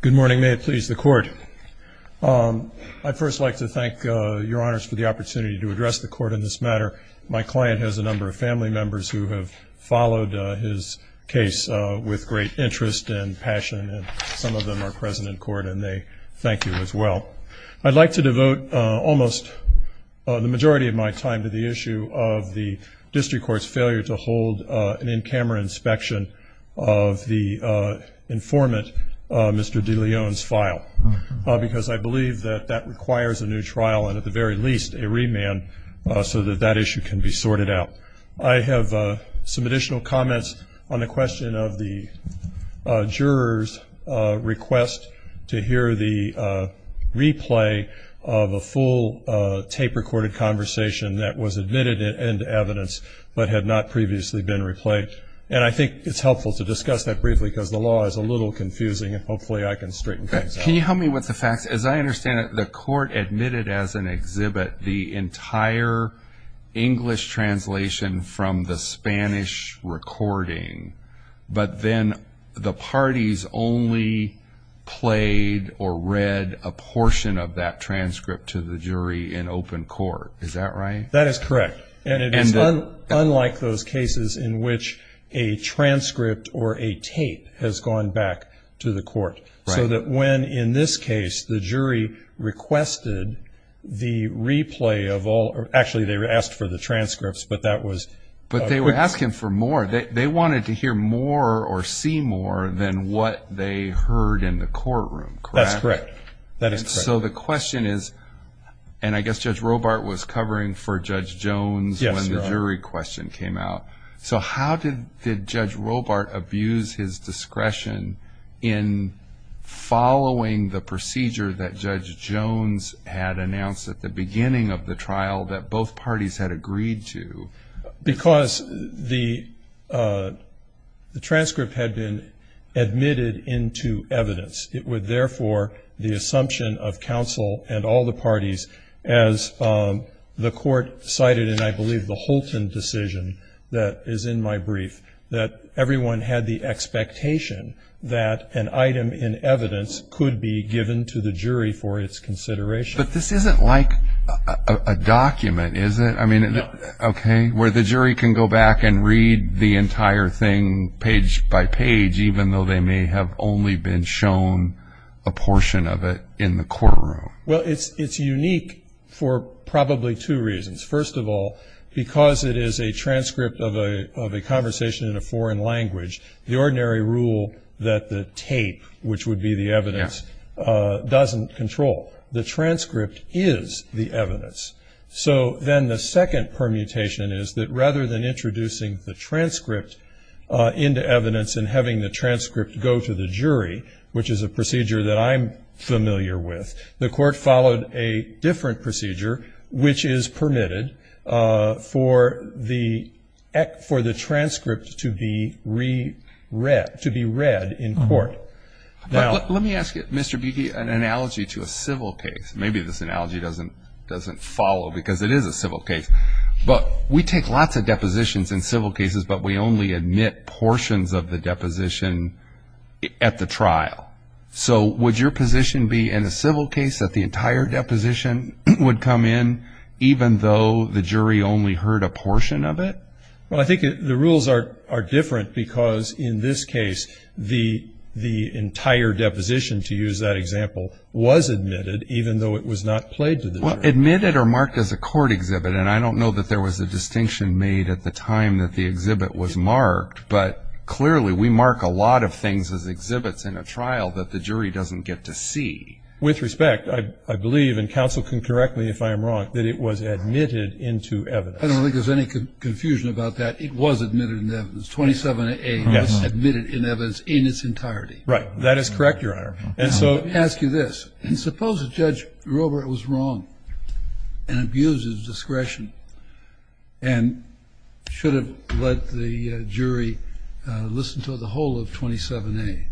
Good morning. May it please the court. I'd first like to thank your honors for the opportunity to address the court in this matter. My client has a number of family members who have followed his case with great interest and passion. Some of them are present in court, and they thank you as well. I'd like to devote almost the majority of my time to the issue of the district court's failure to hold an in-camera inspection of the informant, Mr. DeLeon's, file. Because I believe that that requires a new trial and, at the very least, a remand so that that issue can be sorted out. I have some additional comments on the question of the juror's request to hear the replay of a full tape-recorded conversation that was admitted into evidence but had not previously been replayed. And I think it's helpful to discuss that briefly because the law is a little confusing, and hopefully I can straighten things out. Can you help me with the facts? As I understand it, the court admitted as an exhibit the entire English translation from the Spanish recording, but then the parties only played or read a portion of that transcript to the jury in open court. Is that right? That is correct. And it is unlike those cases in which a transcript or a tape has gone back to the court. Right. So that when, in this case, the jury requested the replay of all or actually they asked for the transcripts, but that was- But they were asking for more. They wanted to hear more or see more than what they heard in the courtroom, correct? That's correct. That is correct. So the question is, and I guess Judge Robart was covering for Judge Jones when the jury question came out, so how did Judge Robart abuse his discretion in following the procedure that Judge Jones had announced at the beginning of the trial that both parties had agreed to? Because the transcript had been admitted into evidence. It would therefore, the assumption of counsel and all the parties, as the court cited in, I believe, the Holton decision that is in my brief, that everyone had the expectation that an item in evidence could be given to the jury for its consideration. But this isn't like a document, is it? I mean, okay, where the jury can go back and read the entire thing page by page, even though they may have only been shown a portion of it in the courtroom. Well, it's unique for probably two reasons. First of all, because it is a transcript of a conversation in a foreign language, the ordinary rule that the tape, which would be the evidence, doesn't control. The transcript is the evidence. So then the second permutation is that rather than introducing the transcript into evidence and having the transcript go to the jury, which is a procedure that I'm familiar with, the court followed a different procedure, which is permitted for the transcript to be read in court. Let me ask you, Mr. Beattie, an analogy to a civil case. Maybe this analogy doesn't follow, because it is a civil case. But we take lots of depositions in civil cases, but we only admit portions of the deposition at the trial. So would your position be in a civil case that the entire deposition would come in, even though the jury only heard a portion of it? Well, I think the rules are different, because in this case the entire deposition, to use that example, was admitted even though it was not played to the jury. Well, admitted or marked as a court exhibit, and I don't know that there was a distinction made at the time that the exhibit was marked, but clearly we mark a lot of things as exhibits in a trial that the jury doesn't get to see. With respect, I believe, and counsel can correct me if I am wrong, that it was admitted into evidence. I don't think there's any confusion about that. It was admitted into evidence. 27A was admitted into evidence in its entirety. Right. That is correct, Your Honor. Let me ask you this. Suppose that Judge Robert was wrong and abused his discretion and should have let the jury listen to the whole of 27A.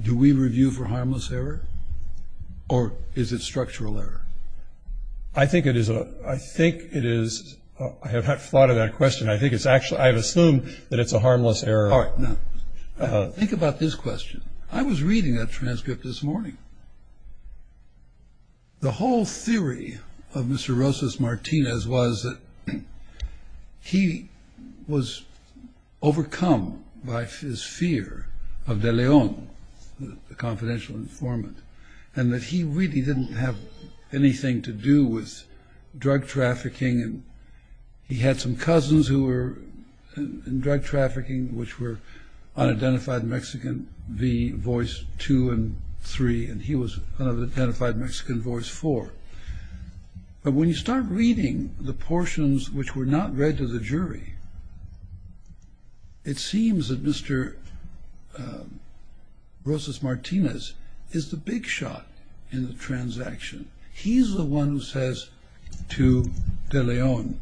Do we review for harmless error, or is it structural error? I think it is. I think it is. I have not thought of that question. I think it's actually ‑‑ I have assumed that it's a harmless error. All right. Now, think about this question. I was reading that transcript this morning. The whole theory of Mr. Rosas Martinez was that he was overcome by his fear of De Leon, the confidential informant, and that he really didn't have anything to do with drug trafficking. He had some cousins who were in drug trafficking, which were unidentified Mexican, the voice two and three, and he was unidentified Mexican voice four. But when you start reading the portions which were not read to the jury, it seems that Mr. Rosas Martinez is the big shot in the transaction. He's the one who says to De Leon,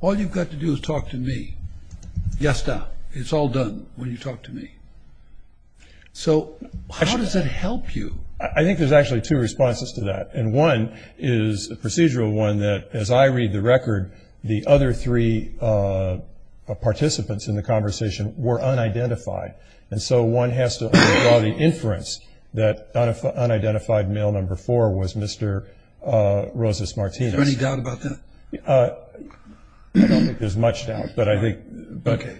all you've got to do is talk to me. Yasta. It's all done when you talk to me. So how does that help you? I think there's actually two responses to that. And one is a procedural one that, as I read the record, the other three participants in the conversation were unidentified. And so one has to draw the inference that unidentified male number four was Mr. Rosas Martinez. Is there any doubt about that? I don't think there's much doubt, but I think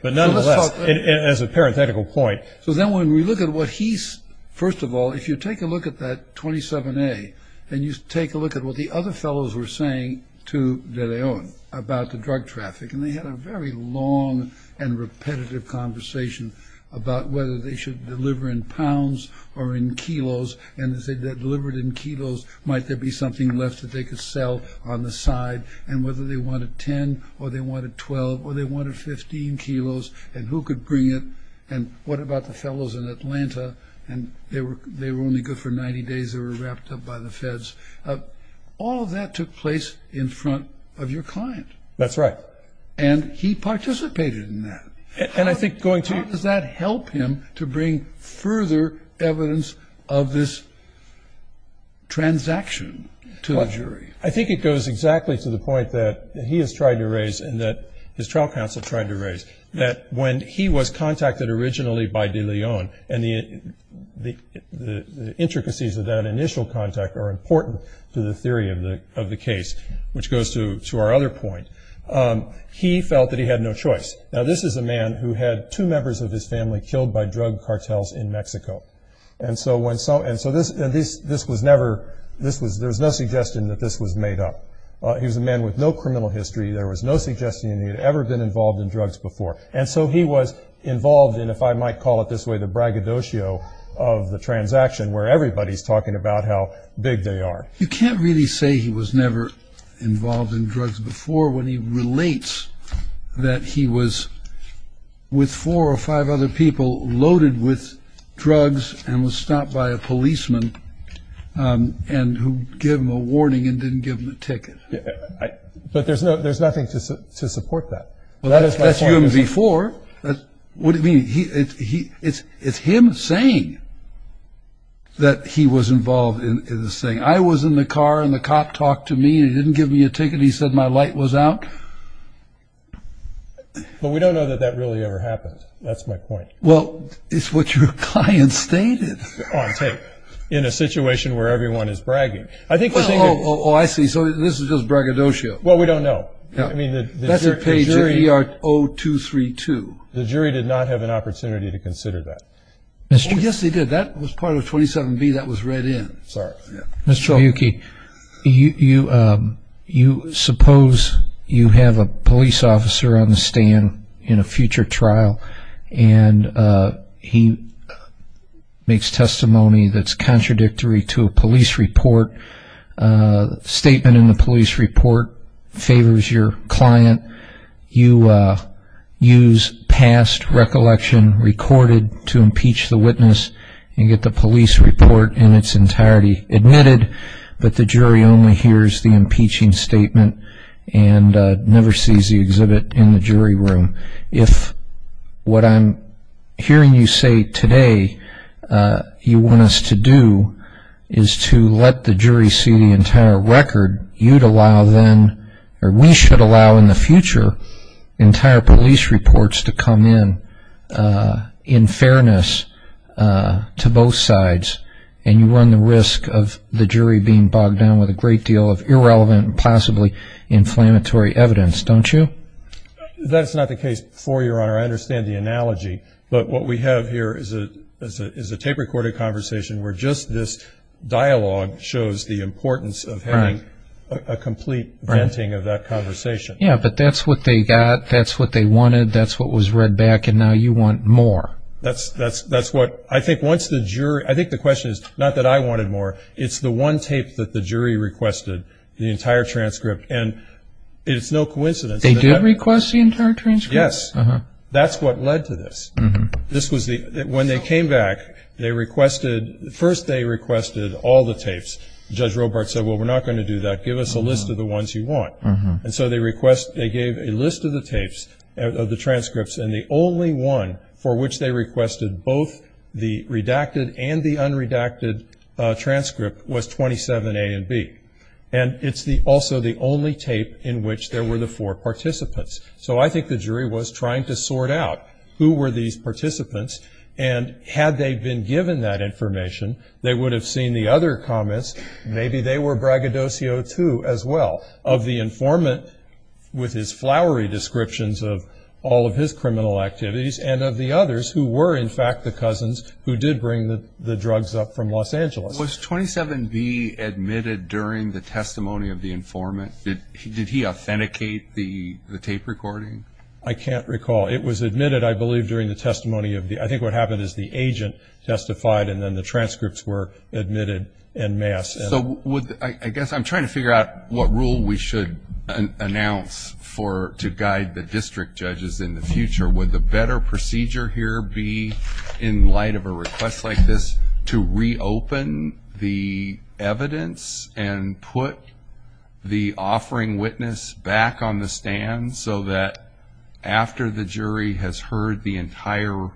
nonetheless, as a parenthetical point. So then when we look at what he's, first of all, if you take a look at that 27A, and you take a look at what the other fellows were saying to De Leon about the drug traffic, and they had a very long and repetitive conversation about whether they should deliver in pounds or in kilos. And as they delivered in kilos, might there be something left that they could sell on the side? And whether they wanted 10 or they wanted 12 or they wanted 15 kilos, and who could bring it? And what about the fellows in Atlanta? And they were only good for 90 days. They were wrapped up by the feds. All of that took place in front of your client. That's right. And he participated in that. And I think going to- How does that help him to bring further evidence of this transaction to the jury? I think it goes exactly to the point that he has tried to raise and that his trial counsel tried to raise, that when he was contacted originally by De Leon, and the intricacies of that initial contact are important to the theory of the case, which goes to our other point, he felt that he had no choice. Now, this is a man who had two members of his family killed by drug cartels in Mexico. And so this was never-there was no suggestion that this was made up. He was a man with no criminal history. There was no suggestion that he had ever been involved in drugs before. And so he was involved in, if I might call it this way, the braggadocio of the transaction where everybody's talking about how big they are. You can't really say he was never involved in drugs before when he relates that he was with four or five other people loaded with drugs and was stopped by a policeman and who gave him a warning and didn't give him a ticket. But there's nothing to support that. Well, that's UMV4. What do you mean? It's him saying that he was involved in this thing. I was in the car, and the cop talked to me, and he didn't give me a ticket. He said my light was out. But we don't know that that really ever happened. That's my point. Well, it's what your client stated. On tape, in a situation where everyone is bragging. Oh, I see. So this is just braggadocio. Well, we don't know. That's a page of ER 0232. The jury did not have an opportunity to consider that. Oh, yes, they did. That was part of 27B. That was read in. Sorry. Mr. Miyuki, suppose you have a police officer on the stand in a future trial, and he makes testimony that's contradictory to a police report. A statement in the police report favors your client. You use past recollection recorded to impeach the witness and get the police report in its entirety admitted, but the jury only hears the impeaching statement and never sees the exhibit in the jury room. If what I'm hearing you say today you want us to do is to let the jury see the entire record, you'd allow then, or we should allow in the future, entire police reports to come in, in fairness to both sides, and you run the risk of the jury being bogged down with a great deal of irrelevant and possibly inflammatory evidence, don't you? That's not the case for you, Your Honor. I understand the analogy, but what we have here is a tape-recorded conversation where just this dialogue shows the importance of having a complete venting of that conversation. Yes, but that's what they got, that's what they wanted, that's what was read back, and now you want more. I think the question is not that I wanted more. It's the one tape that the jury requested, the entire transcript, and it's no coincidence. They did request the entire transcript? Yes. That's what led to this. When they came back, first they requested all the tapes. Judge Robart said, well, we're not going to do that. Give us a list of the ones you want. And so they gave a list of the tapes, of the transcripts, and the only one for which they requested both the redacted and the unredacted transcript was 27A and B. And it's also the only tape in which there were the four participants. So I think the jury was trying to sort out who were these participants, and had they been given that information, they would have seen the other comments. Maybe they were braggadocio, too, as well, of the informant with his flowery descriptions of all of his criminal activities, and of the others who were, in fact, the cousins who did bring the drugs up from Los Angeles. Was 27B admitted during the testimony of the informant? Did he authenticate the tape recording? I can't recall. It was admitted, I believe, during the testimony of the ‑‑ I think what happened is the agent testified, and then the transcripts were admitted en masse. So I guess I'm trying to figure out what rule we should announce to guide the district judges in the future. Would the better procedure here be, in light of a request like this, to reopen the evidence and put the offering witness back on the stand so that after the jury has heard the entire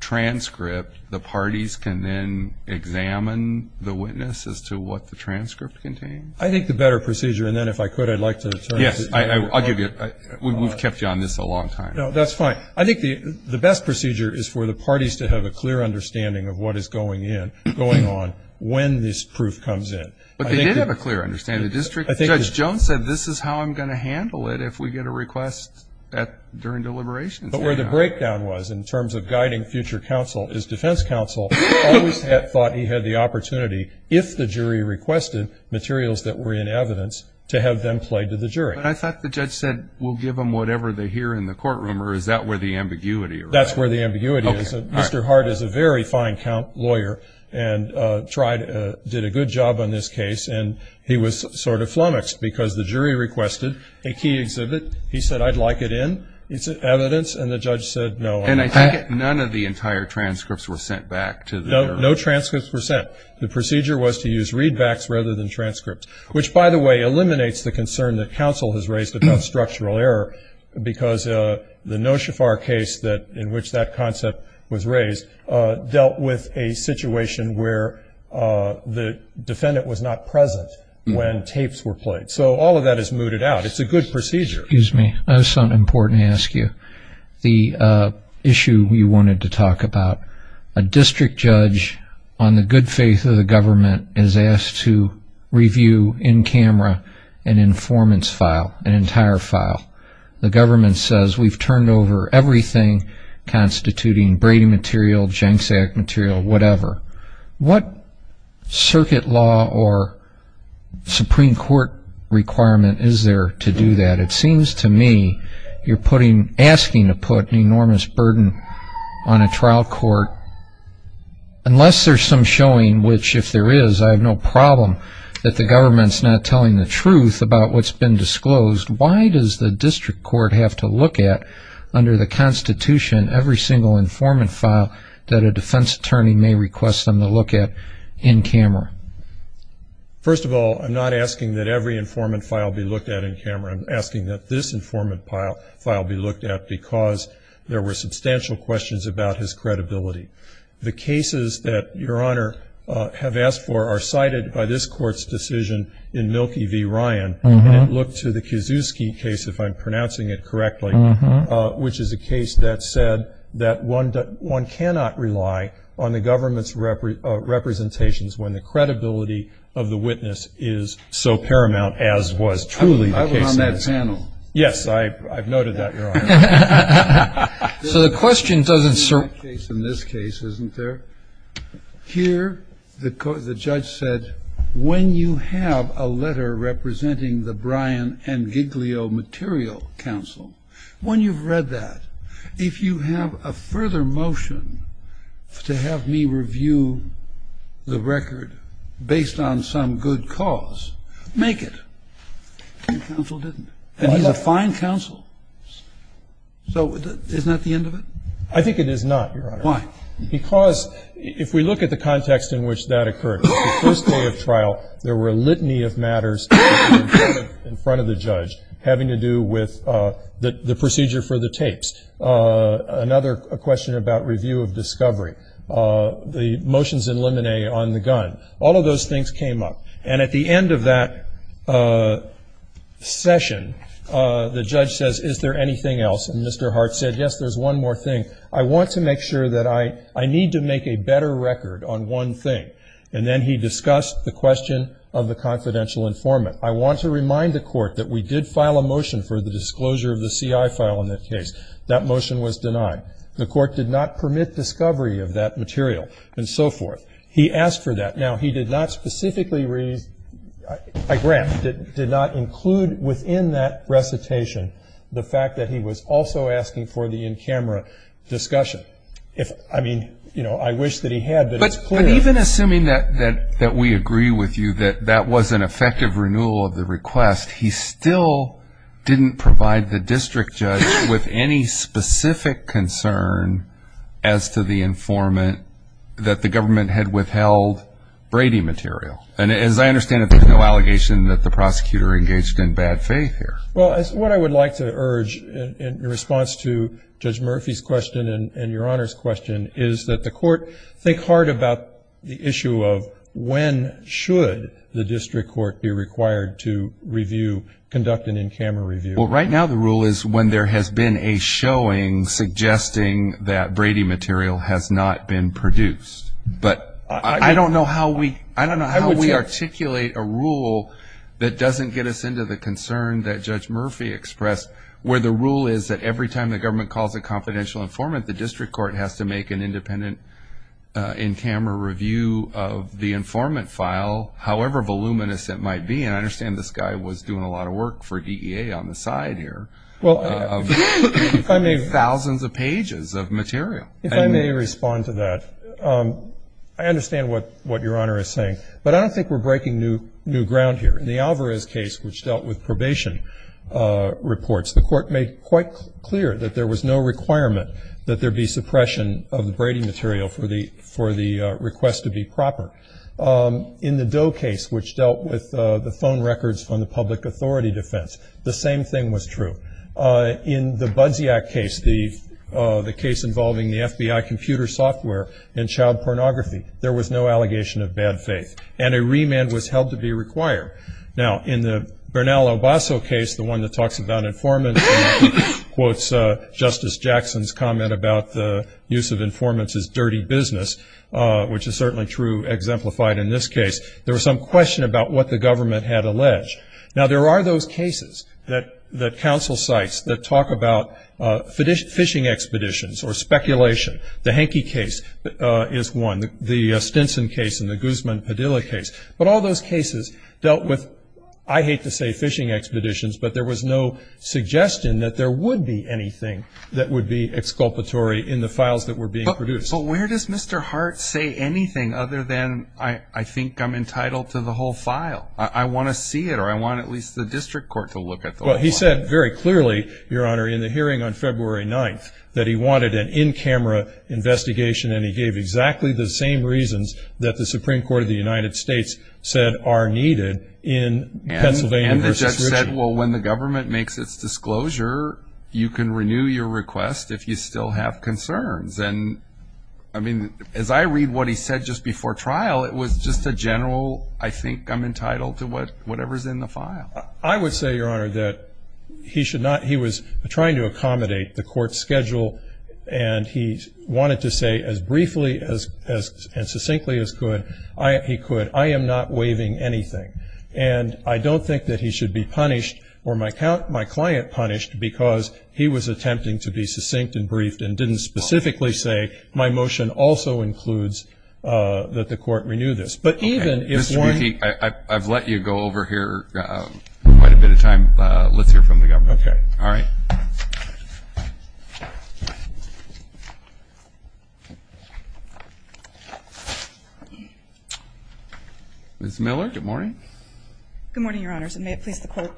transcript, the parties can then examine the witness as to what the transcript contained? I think the better procedure, and then if I could, I'd like to turn to you. Yes, I'll give you a ‑‑ we've kept you on this a long time. No, that's fine. I think the best procedure is for the parties to have a clear understanding of what is going on when this proof comes in. But they did have a clear understanding. The district judge, Judge Jones, said this is how I'm going to handle it if we get a request during deliberations. But where the breakdown was in terms of guiding future counsel is defense counsel always thought he had the opportunity, if the jury requested materials that were in evidence, to have them play to the jury. I thought the judge said we'll give them whatever they hear in the courtroom, or is that where the ambiguity is? That's where the ambiguity is. Mr. Hart is a very fine lawyer and did a good job on this case. And he was sort of flummoxed because the jury requested a key exhibit. He said, I'd like it in. It's evidence. And the judge said no. And I think none of the entire transcripts were sent back to the jury. No transcripts were sent. The procedure was to use readbacks rather than transcripts, which, by the way, eliminates the concern that counsel has raised about structural error because the Noshefar case in which that concept was raised dealt with a situation where the defendant was not present when tapes were played. So all of that is mooted out. It's a good procedure. Excuse me. I have something important to ask you. The issue you wanted to talk about, a district judge, on the good faith of the government, is asked to review in camera an informants file, an entire file. The government says we've turned over everything constituting Brady material, Jenks Act material, whatever. What circuit law or Supreme Court requirement is there to do that? It seems to me you're asking to put an enormous burden on a trial court. Unless there's some showing, which, if there is, I have no problem that the government's not telling the truth about what's been disclosed, why does the district court have to look at, under the Constitution, every single informant file that a defense attorney may request them to look at in camera? First of all, I'm not asking that every informant file be looked at in camera. I'm asking that this informant file be looked at because there were substantial questions about his credibility. The cases that Your Honor have asked for are cited by this Court's decision in Mielke v. Ryan, and it looked to the Kiszewski case, if I'm pronouncing it correctly, which is a case that said that one cannot rely on the government's representations when the credibility of the witness is so paramount as was truly the case. I was on that panel. Yes, I've noted that, Your Honor. So the question doesn't serve. In this case, isn't there? Here, the judge said, when you have a letter representing the Bryan and Giglio material counsel, when you've read that, if you have a further motion to have me review the record based on some good cause, make it. Counsel didn't. And he's a fine counsel. So isn't that the end of it? I think it is not, Your Honor. Why? Because if we look at the context in which that occurred, the first day of trial there were a litany of matters in front of the judge having to do with the procedure for the tapes. Another question about review of discovery. The motions in limine on the gun. All of those things came up. And at the end of that session, the judge says, is there anything else? And Mr. Hart said, yes, there's one more thing. I want to make sure that I need to make a better record on one thing. And then he discussed the question of the confidential informant. I want to remind the court that we did file a motion for the disclosure of the CI file in that case. That motion was denied. The court did not permit discovery of that material and so forth. He asked for that. Now, he did not specifically raise a grant, did not include within that recitation the fact that he was also asking for the in-camera discussion. I mean, you know, I wish that he had, but it's clear. Even assuming that we agree with you that that was an effective renewal of the request, he still didn't provide the district judge with any specific concern as to the informant that the government had withheld Brady material. And as I understand it, there's no allegation that the prosecutor engaged in bad faith here. Well, what I would like to urge in response to Judge Murphy's question and Your Honor's question is that the court think hard about the issue of when should the district court be required to review, conduct an in-camera review. Well, right now the rule is when there has been a showing suggesting that Brady material has not been produced. But I don't know how we articulate a rule that doesn't get us into the concern that Judge Murphy expressed, where the rule is that every time the government calls a confidential informant, the district court has to make an independent in-camera review of the informant file, however voluminous it might be. And I understand this guy was doing a lot of work for DEA on the side here of thousands of pages of material. If I may respond to that, I understand what Your Honor is saying, but I don't think we're breaking new ground here. In the Alvarez case, which dealt with probation reports, the court made quite clear that there was no requirement that there be suppression of the Brady material for the request to be proper. In the Doe case, which dealt with the phone records from the public authority defense, the same thing was true. In the Budziak case, the case involving the FBI computer software and child pornography, there was no allegation of bad faith, and a remand was held to be required. Now, in the Bernal Obasso case, the one that talks about informants and quotes Justice Jackson's comment about the use of informants as dirty business, which is certainly true, exemplified in this case, there was some question about what the government had alleged. Now, there are those cases that counsel cites that talk about phishing expeditions or speculation. The Henke case is one. The Stinson case and the Guzman-Padilla case. But all those cases dealt with, I hate to say phishing expeditions, but there was no suggestion that there would be anything that would be exculpatory in the files that were being produced. But where does Mr. Hart say anything other than I think I'm entitled to the whole file? I want to see it, or I want at least the district court to look at the whole file. Well, he said very clearly, Your Honor, in the hearing on February 9th, that he wanted an in-camera investigation, and he gave exactly the same reasons that the Supreme Court of the United States said are needed in Pennsylvania v. Ritchie. And the judge said, well, when the government makes its disclosure, you can renew your request if you still have concerns. And, I mean, as I read what he said just before trial, it was just a general, I think I'm entitled to whatever's in the file. I would say, Your Honor, that he was trying to accommodate the court's schedule, and he wanted to say as briefly and succinctly as he could, I am not waiving anything. And I don't think that he should be punished or my client punished because he was attempting to be succinct and briefed and didn't specifically say my motion also includes that the court renew this. But even if one ---- Mr. Ritchie, I've let you go over here quite a bit of time. Let's hear from the government. Okay. All right. Ms. Miller, good morning. Good morning, Your Honors, and may it please the Court,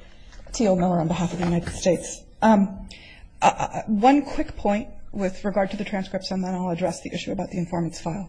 T.O. Miller on behalf of the United States. One quick point with regard to the transcripts, and then I'll address the issue about the informant's file.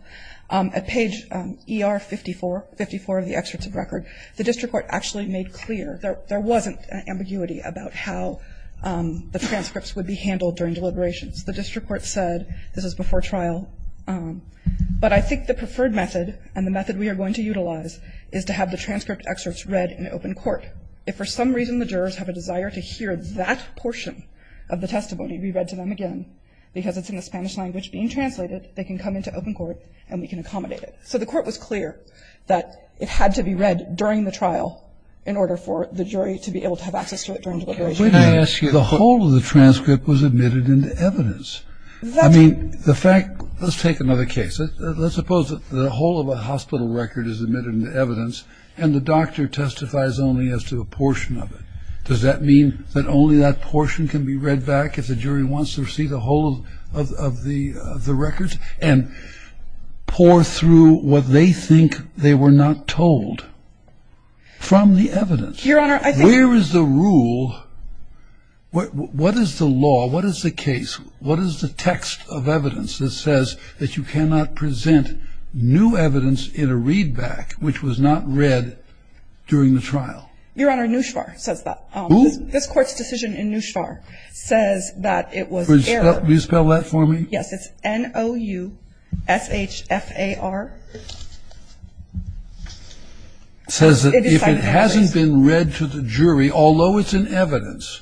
At page ER 54, 54 of the excerpts of record, the district court actually made clear there wasn't an ambiguity about how the transcripts would be handled during deliberations. The district court said this is before trial, but I think the preferred method and the method we are going to utilize is to have the transcript excerpts read in open court. If for some reason the jurors have a desire to hear that portion of the testimony be read to them again, because it's in the Spanish language being translated, they can come into open court and we can accommodate it. So the court was clear that it had to be read during the trial in order for the jury to be able to have access to it during deliberations. Can I ask you ---- The whole of the transcript was admitted into evidence. I mean, the fact ---- Let's take another case. Let's suppose that the whole of a hospital record is admitted into evidence and the doctor testifies only as to a portion of it. Does that mean that only that portion can be read back if the jury wants to receive the whole of the record and pour through what they think they were not told from the evidence? Your Honor, I think ---- Where is the rule? What is the law? What is the case? What is the text of evidence that says that you cannot present new evidence in a readback, which was not read during the trial? Your Honor, NUSHVAR says that. Who? This Court's decision in NUSHVAR says that it was error. Will you spell that for me? Yes. It's N-O-U-S-H-F-A-R. It says that if it hasn't been read to the jury, although it's in evidence,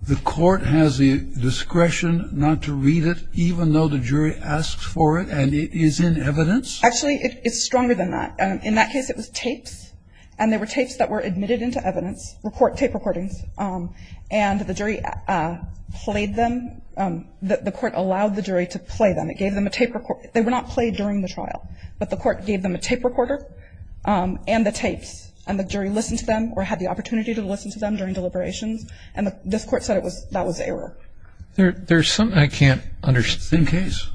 the court has the discretion not to read it even though the jury asks for it and it is in evidence? Actually, it's stronger than that. In that case, it was tapes, and they were tapes that were admitted into evidence, tape recordings, and the jury played them. The court allowed the jury to play them. It gave them a tape recorder. They were not played during the trial, but the court gave them a tape recorder and the tapes, and the jury listened to them or had the opportunity to listen to them during deliberations, and this Court said that was error. There's something I can't understand. It's the same case.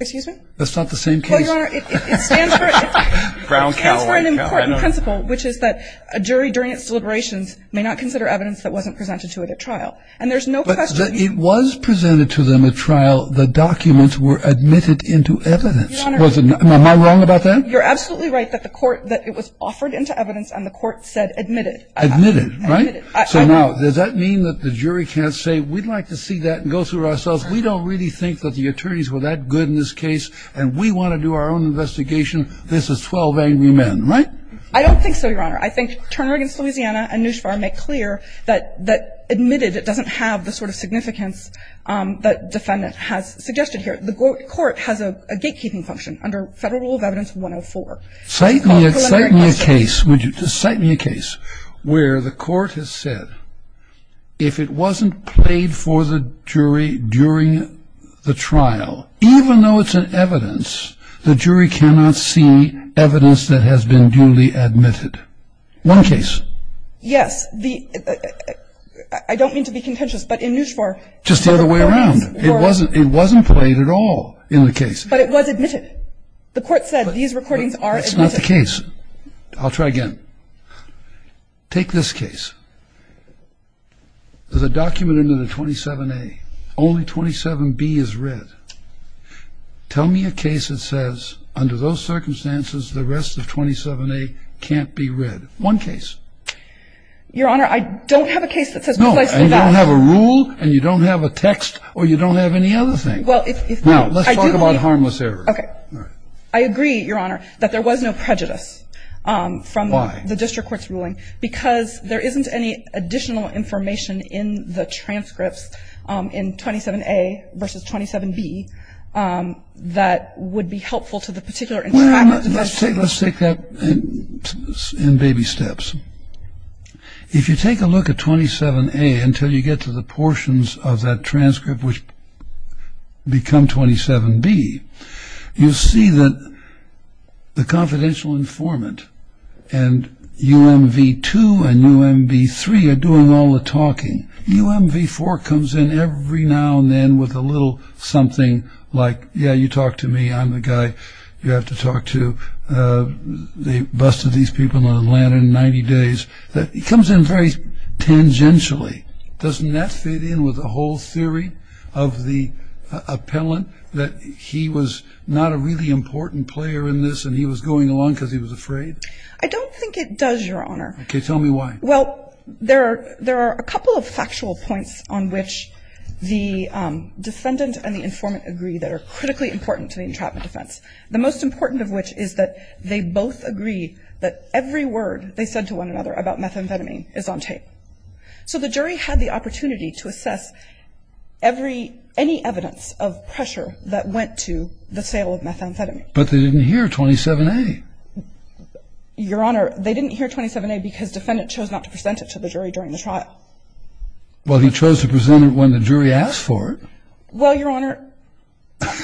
Excuse me? That's not the same case. Well, Your Honor, it stands for an important principle, which is that a jury during its deliberations may not consider evidence that wasn't presented to it at trial, and there's no question. But it was presented to them at trial. The documents were admitted into evidence. Your Honor. Am I wrong about that? You're absolutely right that the court that it was offered into evidence and the court said admitted. Admitted, right? Admitted. So now, does that mean that the jury can't say we'd like to see that and go through it ourselves? Because we don't really think that the attorneys were that good in this case, and we want to do our own investigation. This is 12 angry men, right? I don't think so, Your Honor. I think Turner v. Louisiana and Nushvar make clear that admitted doesn't have the sort of significance that defendant has suggested here. The court has a gatekeeping function under Federal Rule of Evidence 104. Cite me a case, would you? Cite me a case where the court has said if it wasn't played for the jury during the trial, even though it's an evidence, the jury cannot see evidence that has been duly admitted. One case. Yes. I don't mean to be contentious, but in Nushvar. Just the other way around. It wasn't played at all in the case. But it was admitted. The court said these recordings are admitted. That's not the case. I'll try again. Take this case. There's a document under the 27A. Only 27B is read. Tell me a case that says under those circumstances the rest of 27A can't be read. One case. Your Honor, I don't have a case that says both of those. No, and you don't have a rule, and you don't have a text, or you don't have any other thing. Well, if not, I do. Now, let's talk about harmless error. Okay. I agree, Your Honor, that there was no prejudice from the court. Why? The district court's ruling. Because there isn't any additional information in the transcripts in 27A versus 27B that would be helpful to the particular informant. Let's take that in baby steps. If you take a look at 27A until you get to the portions of that transcript which become 27B, you'll see that the confidential informant and UMV2 and UMV3 are doing all the talking. UMV4 comes in every now and then with a little something like, yeah, you talk to me. I'm the guy you have to talk to. They busted these people in Atlanta in 90 days. It comes in very tangentially. Does that fit in with the whole theory of the appellant that he was not a really important player in this and he was going along because he was afraid? I don't think it does, Your Honor. Okay. Tell me why. Well, there are a couple of factual points on which the defendant and the informant agree that are critically important to the entrapment defense, the most important of which is that they both agree that every word they said to one another about methamphetamine is on tape. So the jury had the opportunity to assess any evidence of pressure that went to the sale of methamphetamine. But they didn't hear 27A. Your Honor, they didn't hear 27A because the defendant chose not to present it to the jury during the trial. Well, he chose to present it when the jury asked for it. Well, Your Honor,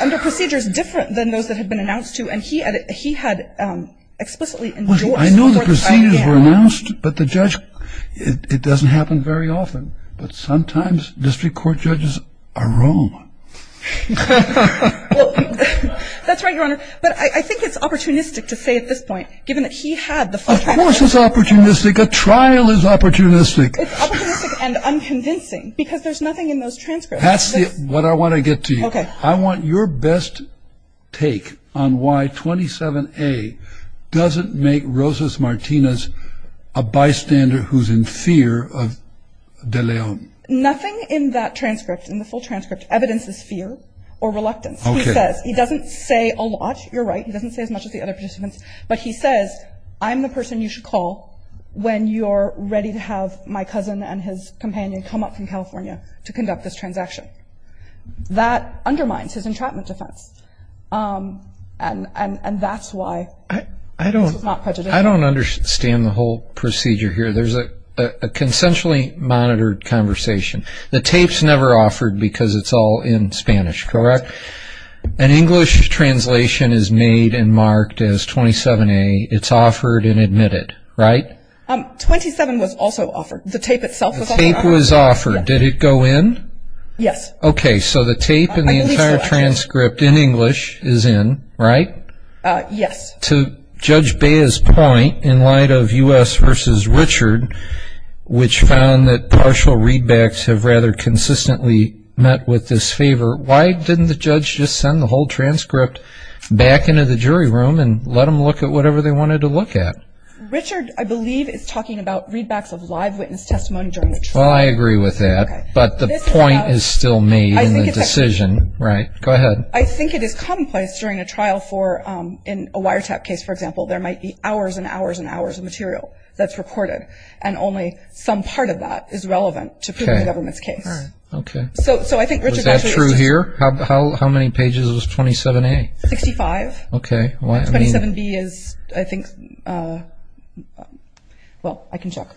and the procedure is different than those that had been announced to, and he had explicitly endorsed it. I know the procedures were announced, but the judge, it doesn't happen very often, but sometimes district court judges are wrong. That's right, Your Honor. But I think it's opportunistic to say at this point, given that he had the first methamphetamine. Of course it's opportunistic. A trial is opportunistic. It's opportunistic and unconvincing because there's nothing in those transcripts. That's what I want to get to you. Okay. I want your best take on why 27A doesn't make Rosas-Martinez a bystander who's in fear of De Leon. Nothing in that transcript, in the full transcript, evidences fear or reluctance. Okay. He doesn't say a lot. You're right. He doesn't say as much as the other participants. But he says, I'm the person you should call when you're ready to have my cousin and his companion come up from California to conduct this transaction. That undermines his entrapment defense, and that's why this was not prejudicial. I don't understand the whole procedure here. There's a consensually monitored conversation. The tape's never offered because it's all in Spanish, correct? Yes. An English translation is made and marked as 27A. It's offered and admitted, right? 27 was also offered. The tape itself was offered. The tape was offered. Did it go in? Yes. Okay. So the tape and the entire transcript in English is in, right? Yes. To Judge Bea's point, in light of U.S. v. Richard, which found that partial readbacks have rather consistently met with this favor, why didn't the judge just send the whole transcript back into the jury room and let them look at whatever they wanted to look at? Richard, I believe, is talking about readbacks of live witness testimony during the trial. Well, I agree with that. Okay. But the point is still made in the decision. Right. Go ahead. I think it is commonplace during a trial for, in a wiretap case, for example, there might be hours and hours and hours of material that's recorded, and only some part of that is relevant to proving the government's case. Okay. So I think Richard's answer is true. Was that true here? How many pages was 27A? 65. Okay. 27B is, I think, well, I can check.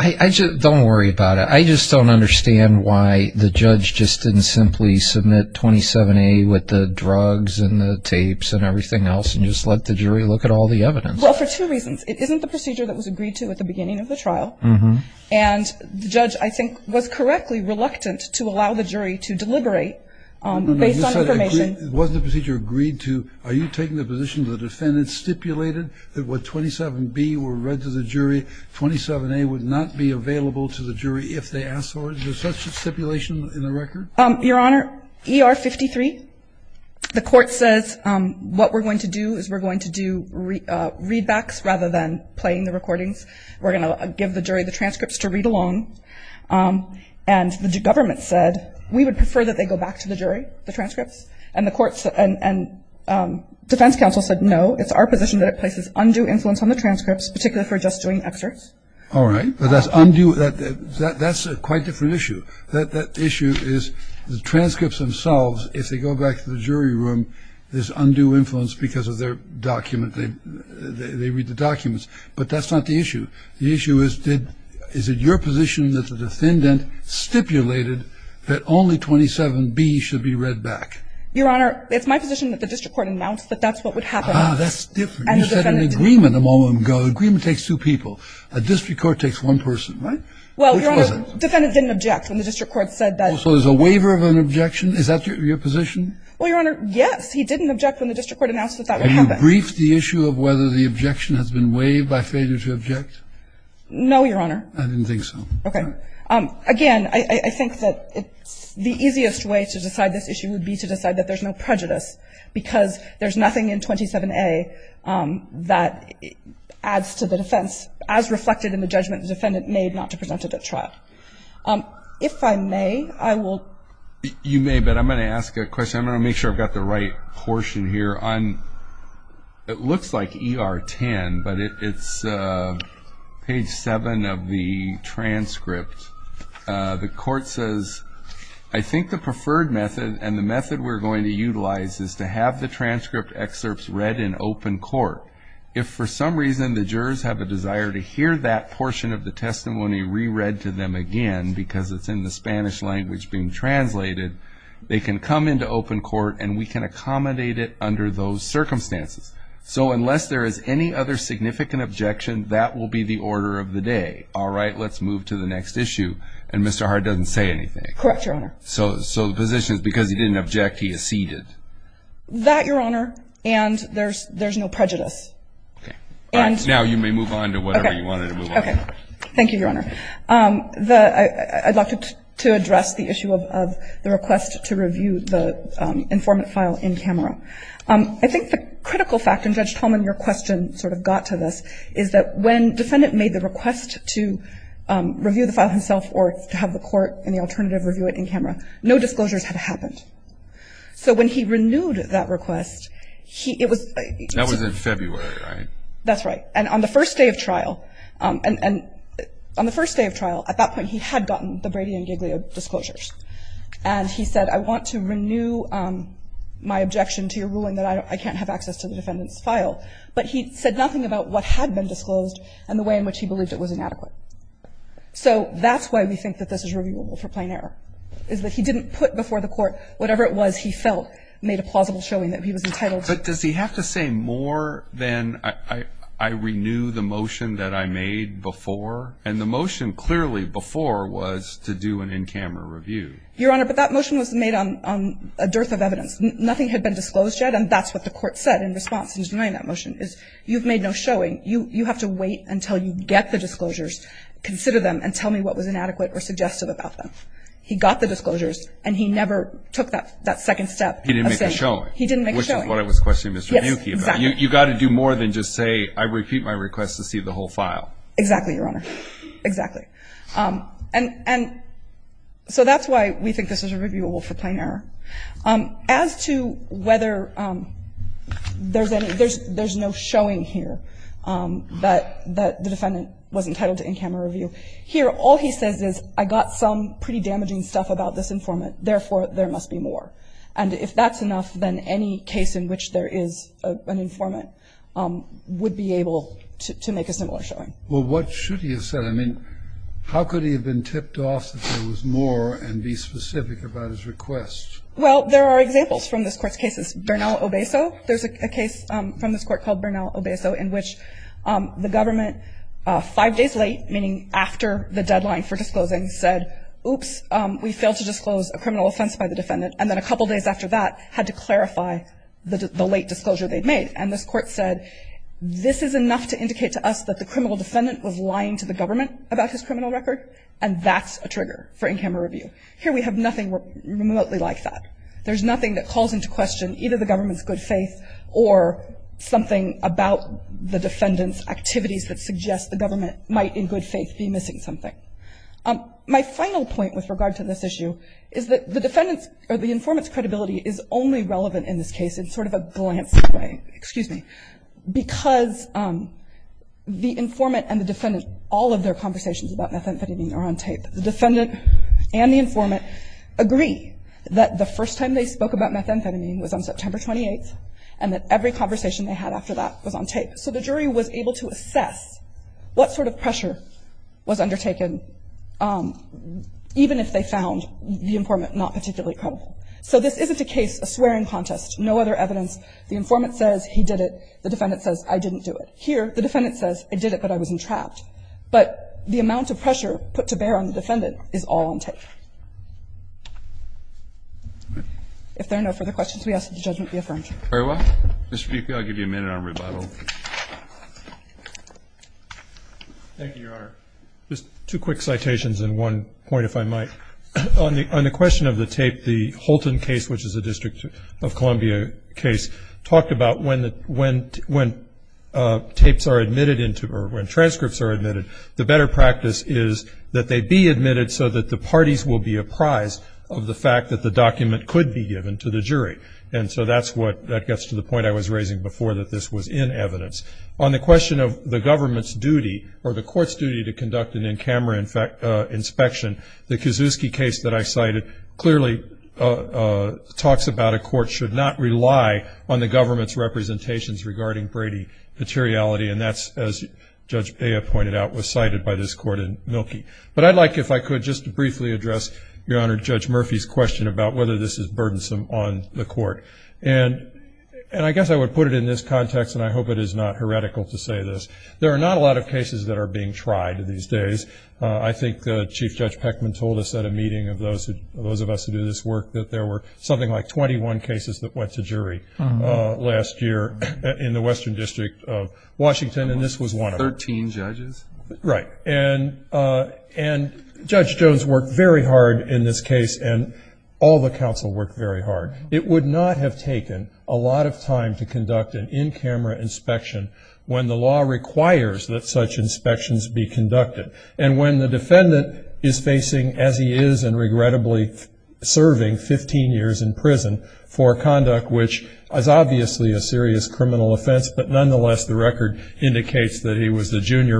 Don't worry about it. I just don't understand why the judge just didn't simply submit 27A with the drugs and the tapes and everything else and just let the jury look at all the evidence. Well, for two reasons. It isn't the procedure that was agreed to at the beginning of the trial. And the judge, I think, was correctly reluctant to allow the jury to deliberate based on information. It wasn't a procedure agreed to. Are you taking the position the defendant stipulated that what 27B were read to the jury, 27A would not be available to the jury if they asked for it? Is there such a stipulation in the record? Your Honor, ER 53, the court says, what we're going to do is we're going to do readbacks rather than playing the recordings. We're going to give the jury the transcripts to read along. And the government said, we would prefer that they go back to the jury, the transcripts. And the defense counsel said, no, it's our position that it places undue influence on the transcripts, particularly if we're just doing excerpts. All right. But that's undue. That's a quite different issue. That issue is the transcripts themselves, if they go back to the jury room, there's undue influence because of their document. They read the documents. But that's not the issue. The issue is, is it your position that the defendant stipulated that only 27B should be read back? Your Honor, it's my position that the district court announced that that's what would happen. Ah, that's different. You said an agreement a moment ago. An agreement takes two people. A district court takes one person, right? Well, Your Honor, defendant didn't object when the district court said that. So there's a waiver of an objection? Is that your position? Well, Your Honor, yes. He didn't object when the district court announced that that would happen. Have you briefed the issue of whether the objection has been waived by failure to object? No, Your Honor. I didn't think so. Okay. Again, I think that the easiest way to decide this issue would be to decide that there's nothing in 27A that adds to the defense as reflected in the judgment the defendant made not to present it at trial. If I may, I will. You may. But I'm going to ask a question. I'm going to make sure I've got the right portion here. It looks like ER 10, but it's page 7 of the transcript. The court says, I think the preferred method and the method we're going to utilize is to have the transcript excerpts read in open court. If for some reason the jurors have a desire to hear that portion of the testimony re-read to them again because it's in the Spanish language being translated, they can come into open court and we can accommodate it under those circumstances. So unless there is any other significant objection, that will be the order of the day. All right. Let's move to the next issue. And Mr. Hart doesn't say anything. Correct, Your Honor. So the position is because he didn't object, he acceded. That, Your Honor, and there's no prejudice. Okay. All right. Now you may move on to whatever you wanted to move on. Okay. Thank you, Your Honor. I'd like to address the issue of the request to review the informant file in camera. I think the critical factor, and Judge Tolman, your question sort of got to this, is that when defendant made the request to review the file himself or to have the court and the alternative review it in camera, no disclosures had happened. So when he renewed that request, he – it was – That was in February, right? That's right. And on the first day of trial – and on the first day of trial, at that point, he had gotten the Brady and Giglio disclosures. And he said, I want to renew my objection to your ruling that I can't have access to the defendant's file. But he said nothing about what had been disclosed and the way in which he believed it was inadequate. So that's why we think that this is reviewable for plain error, is that he didn't put before the court whatever it was he felt made a plausible showing that he was entitled to. But does he have to say more than I renew the motion that I made before? And the motion clearly before was to do an in-camera review. Your Honor, but that motion was made on a dearth of evidence. Nothing had been disclosed yet, and that's what the court said in response to denying that motion, is you've made no showing. You have to wait until you get the disclosures, consider them, and tell me what was inadequate or suggestive about them. He got the disclosures, and he never took that second step of saying – He didn't make a showing. He didn't make a showing. Which is what I was questioning Mr. Buki about. Yes, exactly. You've got to do more than just say I repeat my request to see the whole file. Exactly, Your Honor. Exactly. And so that's why we think this is reviewable for plain error. As to whether there's any – there's no showing here that the defendant was entitled to in-camera review, here all he says is I got some pretty damaging stuff about this informant, therefore there must be more. And if that's enough, then any case in which there is an informant would be able to make a similar showing. Well, what should he have said? I mean, how could he have been tipped off that there was more and be specific about his request? Well, there are examples from this Court's cases. Bernal-Obeso. There's a case from this Court called Bernal-Obeso in which the government five days late, meaning after the deadline for disclosing, said oops, we failed to disclose a criminal offense by the defendant, and then a couple days after that had to clarify the late disclosure they'd made. And this Court said this is enough to indicate to us that the criminal defendant was lying to the government about his criminal record, and that's a trigger for in-camera review. Here we have nothing remotely like that. There's nothing that calls into question either the government's good faith or something about the defendant's activities that suggests the government might in good faith be missing something. My final point with regard to this issue is that the defendant's or the informant's credibility is only relevant in this case in sort of a glance way, excuse me, because the informant and the defendant, all of their conversations about methamphetamine was on September 28th, and that every conversation they had after that was on tape. So the jury was able to assess what sort of pressure was undertaken even if they found the informant not particularly credible. So this isn't a case, a swearing contest, no other evidence. The informant says he did it. The defendant says I didn't do it. Here the defendant says I did it, but I was entrapped. But the amount of pressure put to bear on the defendant is all on tape. If there are no further questions, we ask that the judgment be affirmed. Roberts. Mr. Pepe, I'll give you a minute on rebuttal. Thank you, Your Honor. Just two quick citations and one point, if I might. On the question of the tape, the Holton case, which is a District of Columbia case, talked about when tapes are admitted into or when transcripts are admitted, the better practice is that they be admitted so that the parties will be apprised of the fact that the document could be given to the jury. And so that gets to the point I was raising before, that this was in evidence. On the question of the government's duty, or the court's duty to conduct an in-camera inspection, the Kiszewski case that I cited clearly talks about a court should not rely on the government's representations regarding Brady materiality, and that's, as Judge Peja pointed out, was cited by this court in Mielke. But I'd like, if I could, just to briefly address, Your Honor, Judge Murphy's question about whether this is burdensome on the court. And I guess I would put it in this context, and I hope it is not heretical to say this. There are not a lot of cases that are being tried these days. I think Chief Judge Peckman told us at a meeting of those of us who do this work that there were something like 21 cases that went to jury last year in the Washington, and this was one of them. Thirteen judges? Right. And Judge Jones worked very hard in this case, and all the counsel worked very hard. It would not have taken a lot of time to conduct an in-camera inspection when the law requires that such inspections be conducted. And when the defendant is facing, as he is, and regrettably serving 15 years in prison for conduct which is obviously a junior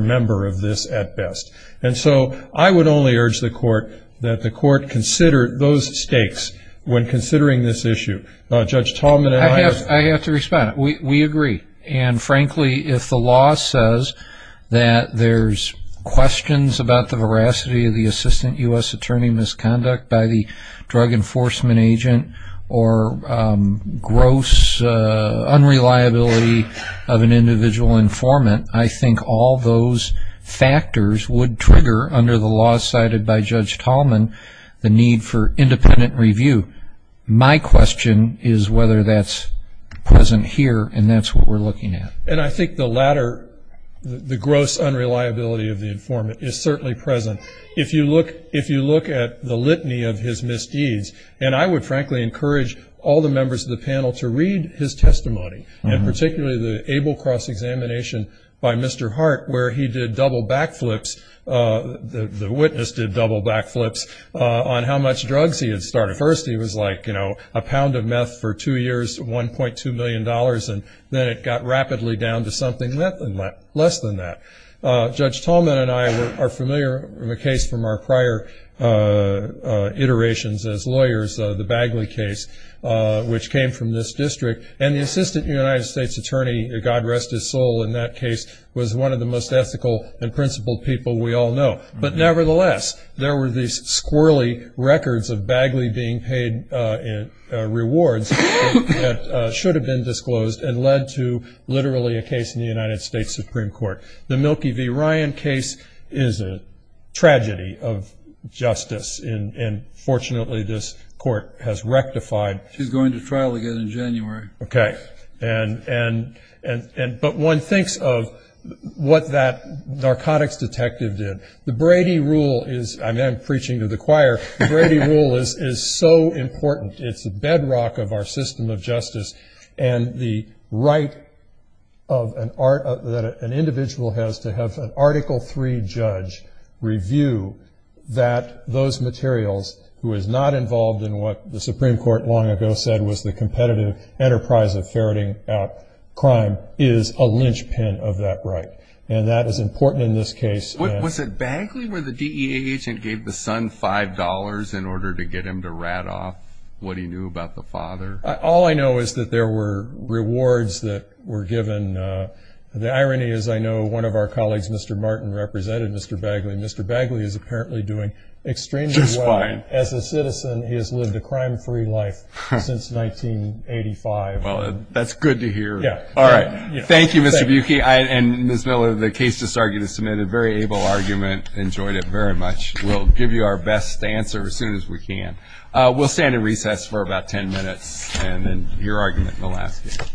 member of this at best. And so I would only urge the court that the court consider those stakes when considering this issue. Judge Tallman and I. I have to respond. We agree. And, frankly, if the law says that there's questions about the veracity of the assistant U.S. attorney misconduct by the drug enforcement agent or gross unreliability of an individual informant, I think all those factors would trigger, under the law cited by Judge Tallman, the need for independent review. My question is whether that's present here, and that's what we're looking at. And I think the latter, the gross unreliability of the informant, is certainly present. If you look at the litany of his misdeeds, and I would, frankly, encourage all the members of the panel to read his testimony, and particularly the ABLE cross-examination by Mr. Hart, where he did double backflips. The witness did double backflips on how much drugs he had started. First he was like, you know, a pound of meth for two years, $1.2 million, and then it got rapidly down to something less than that. Judge Tallman and I are familiar in the case from our prior iterations as lawyers, the Bagley case, which came from this district. And the Assistant United States Attorney, God rest his soul, in that case was one of the most ethical and principled people we all know. But nevertheless, there were these squirrely records of Bagley being paid rewards that should have been disclosed and led to literally a case in the United States Supreme Court. The Milkey v. Ryan case is a tragedy of justice, and fortunately this court has rectified. She's going to trial again in January. Okay. But one thinks of what that narcotics detective did. The Brady Rule is so important. It's the bedrock of our system of justice, and the right that an individual has to have an Article III judge review that those materials, who is not involved in what the Supreme Court long ago said was the competitive enterprise of ferreting out crime, is a linchpin of that right. And that is important in this case. Was it Bagley where the DEA agent gave the son $5 in order to get him to rat off what he knew about the father? All I know is that there were rewards that were given. The irony is I know one of our colleagues, Mr. Martin, represented Mr. Bagley. Mr. Bagley is apparently doing extremely well as a citizen. He has lived a crime-free life since 1985. Well, that's good to hear. Yeah. All right. Thank you, Mr. Milkey. And Ms. Miller, the case just argued is submitted. Very able argument. Enjoyed it very much. We'll give you our best answer as soon as we can. We'll stand in recess for about ten minutes, and then your argument in the last. Thank you.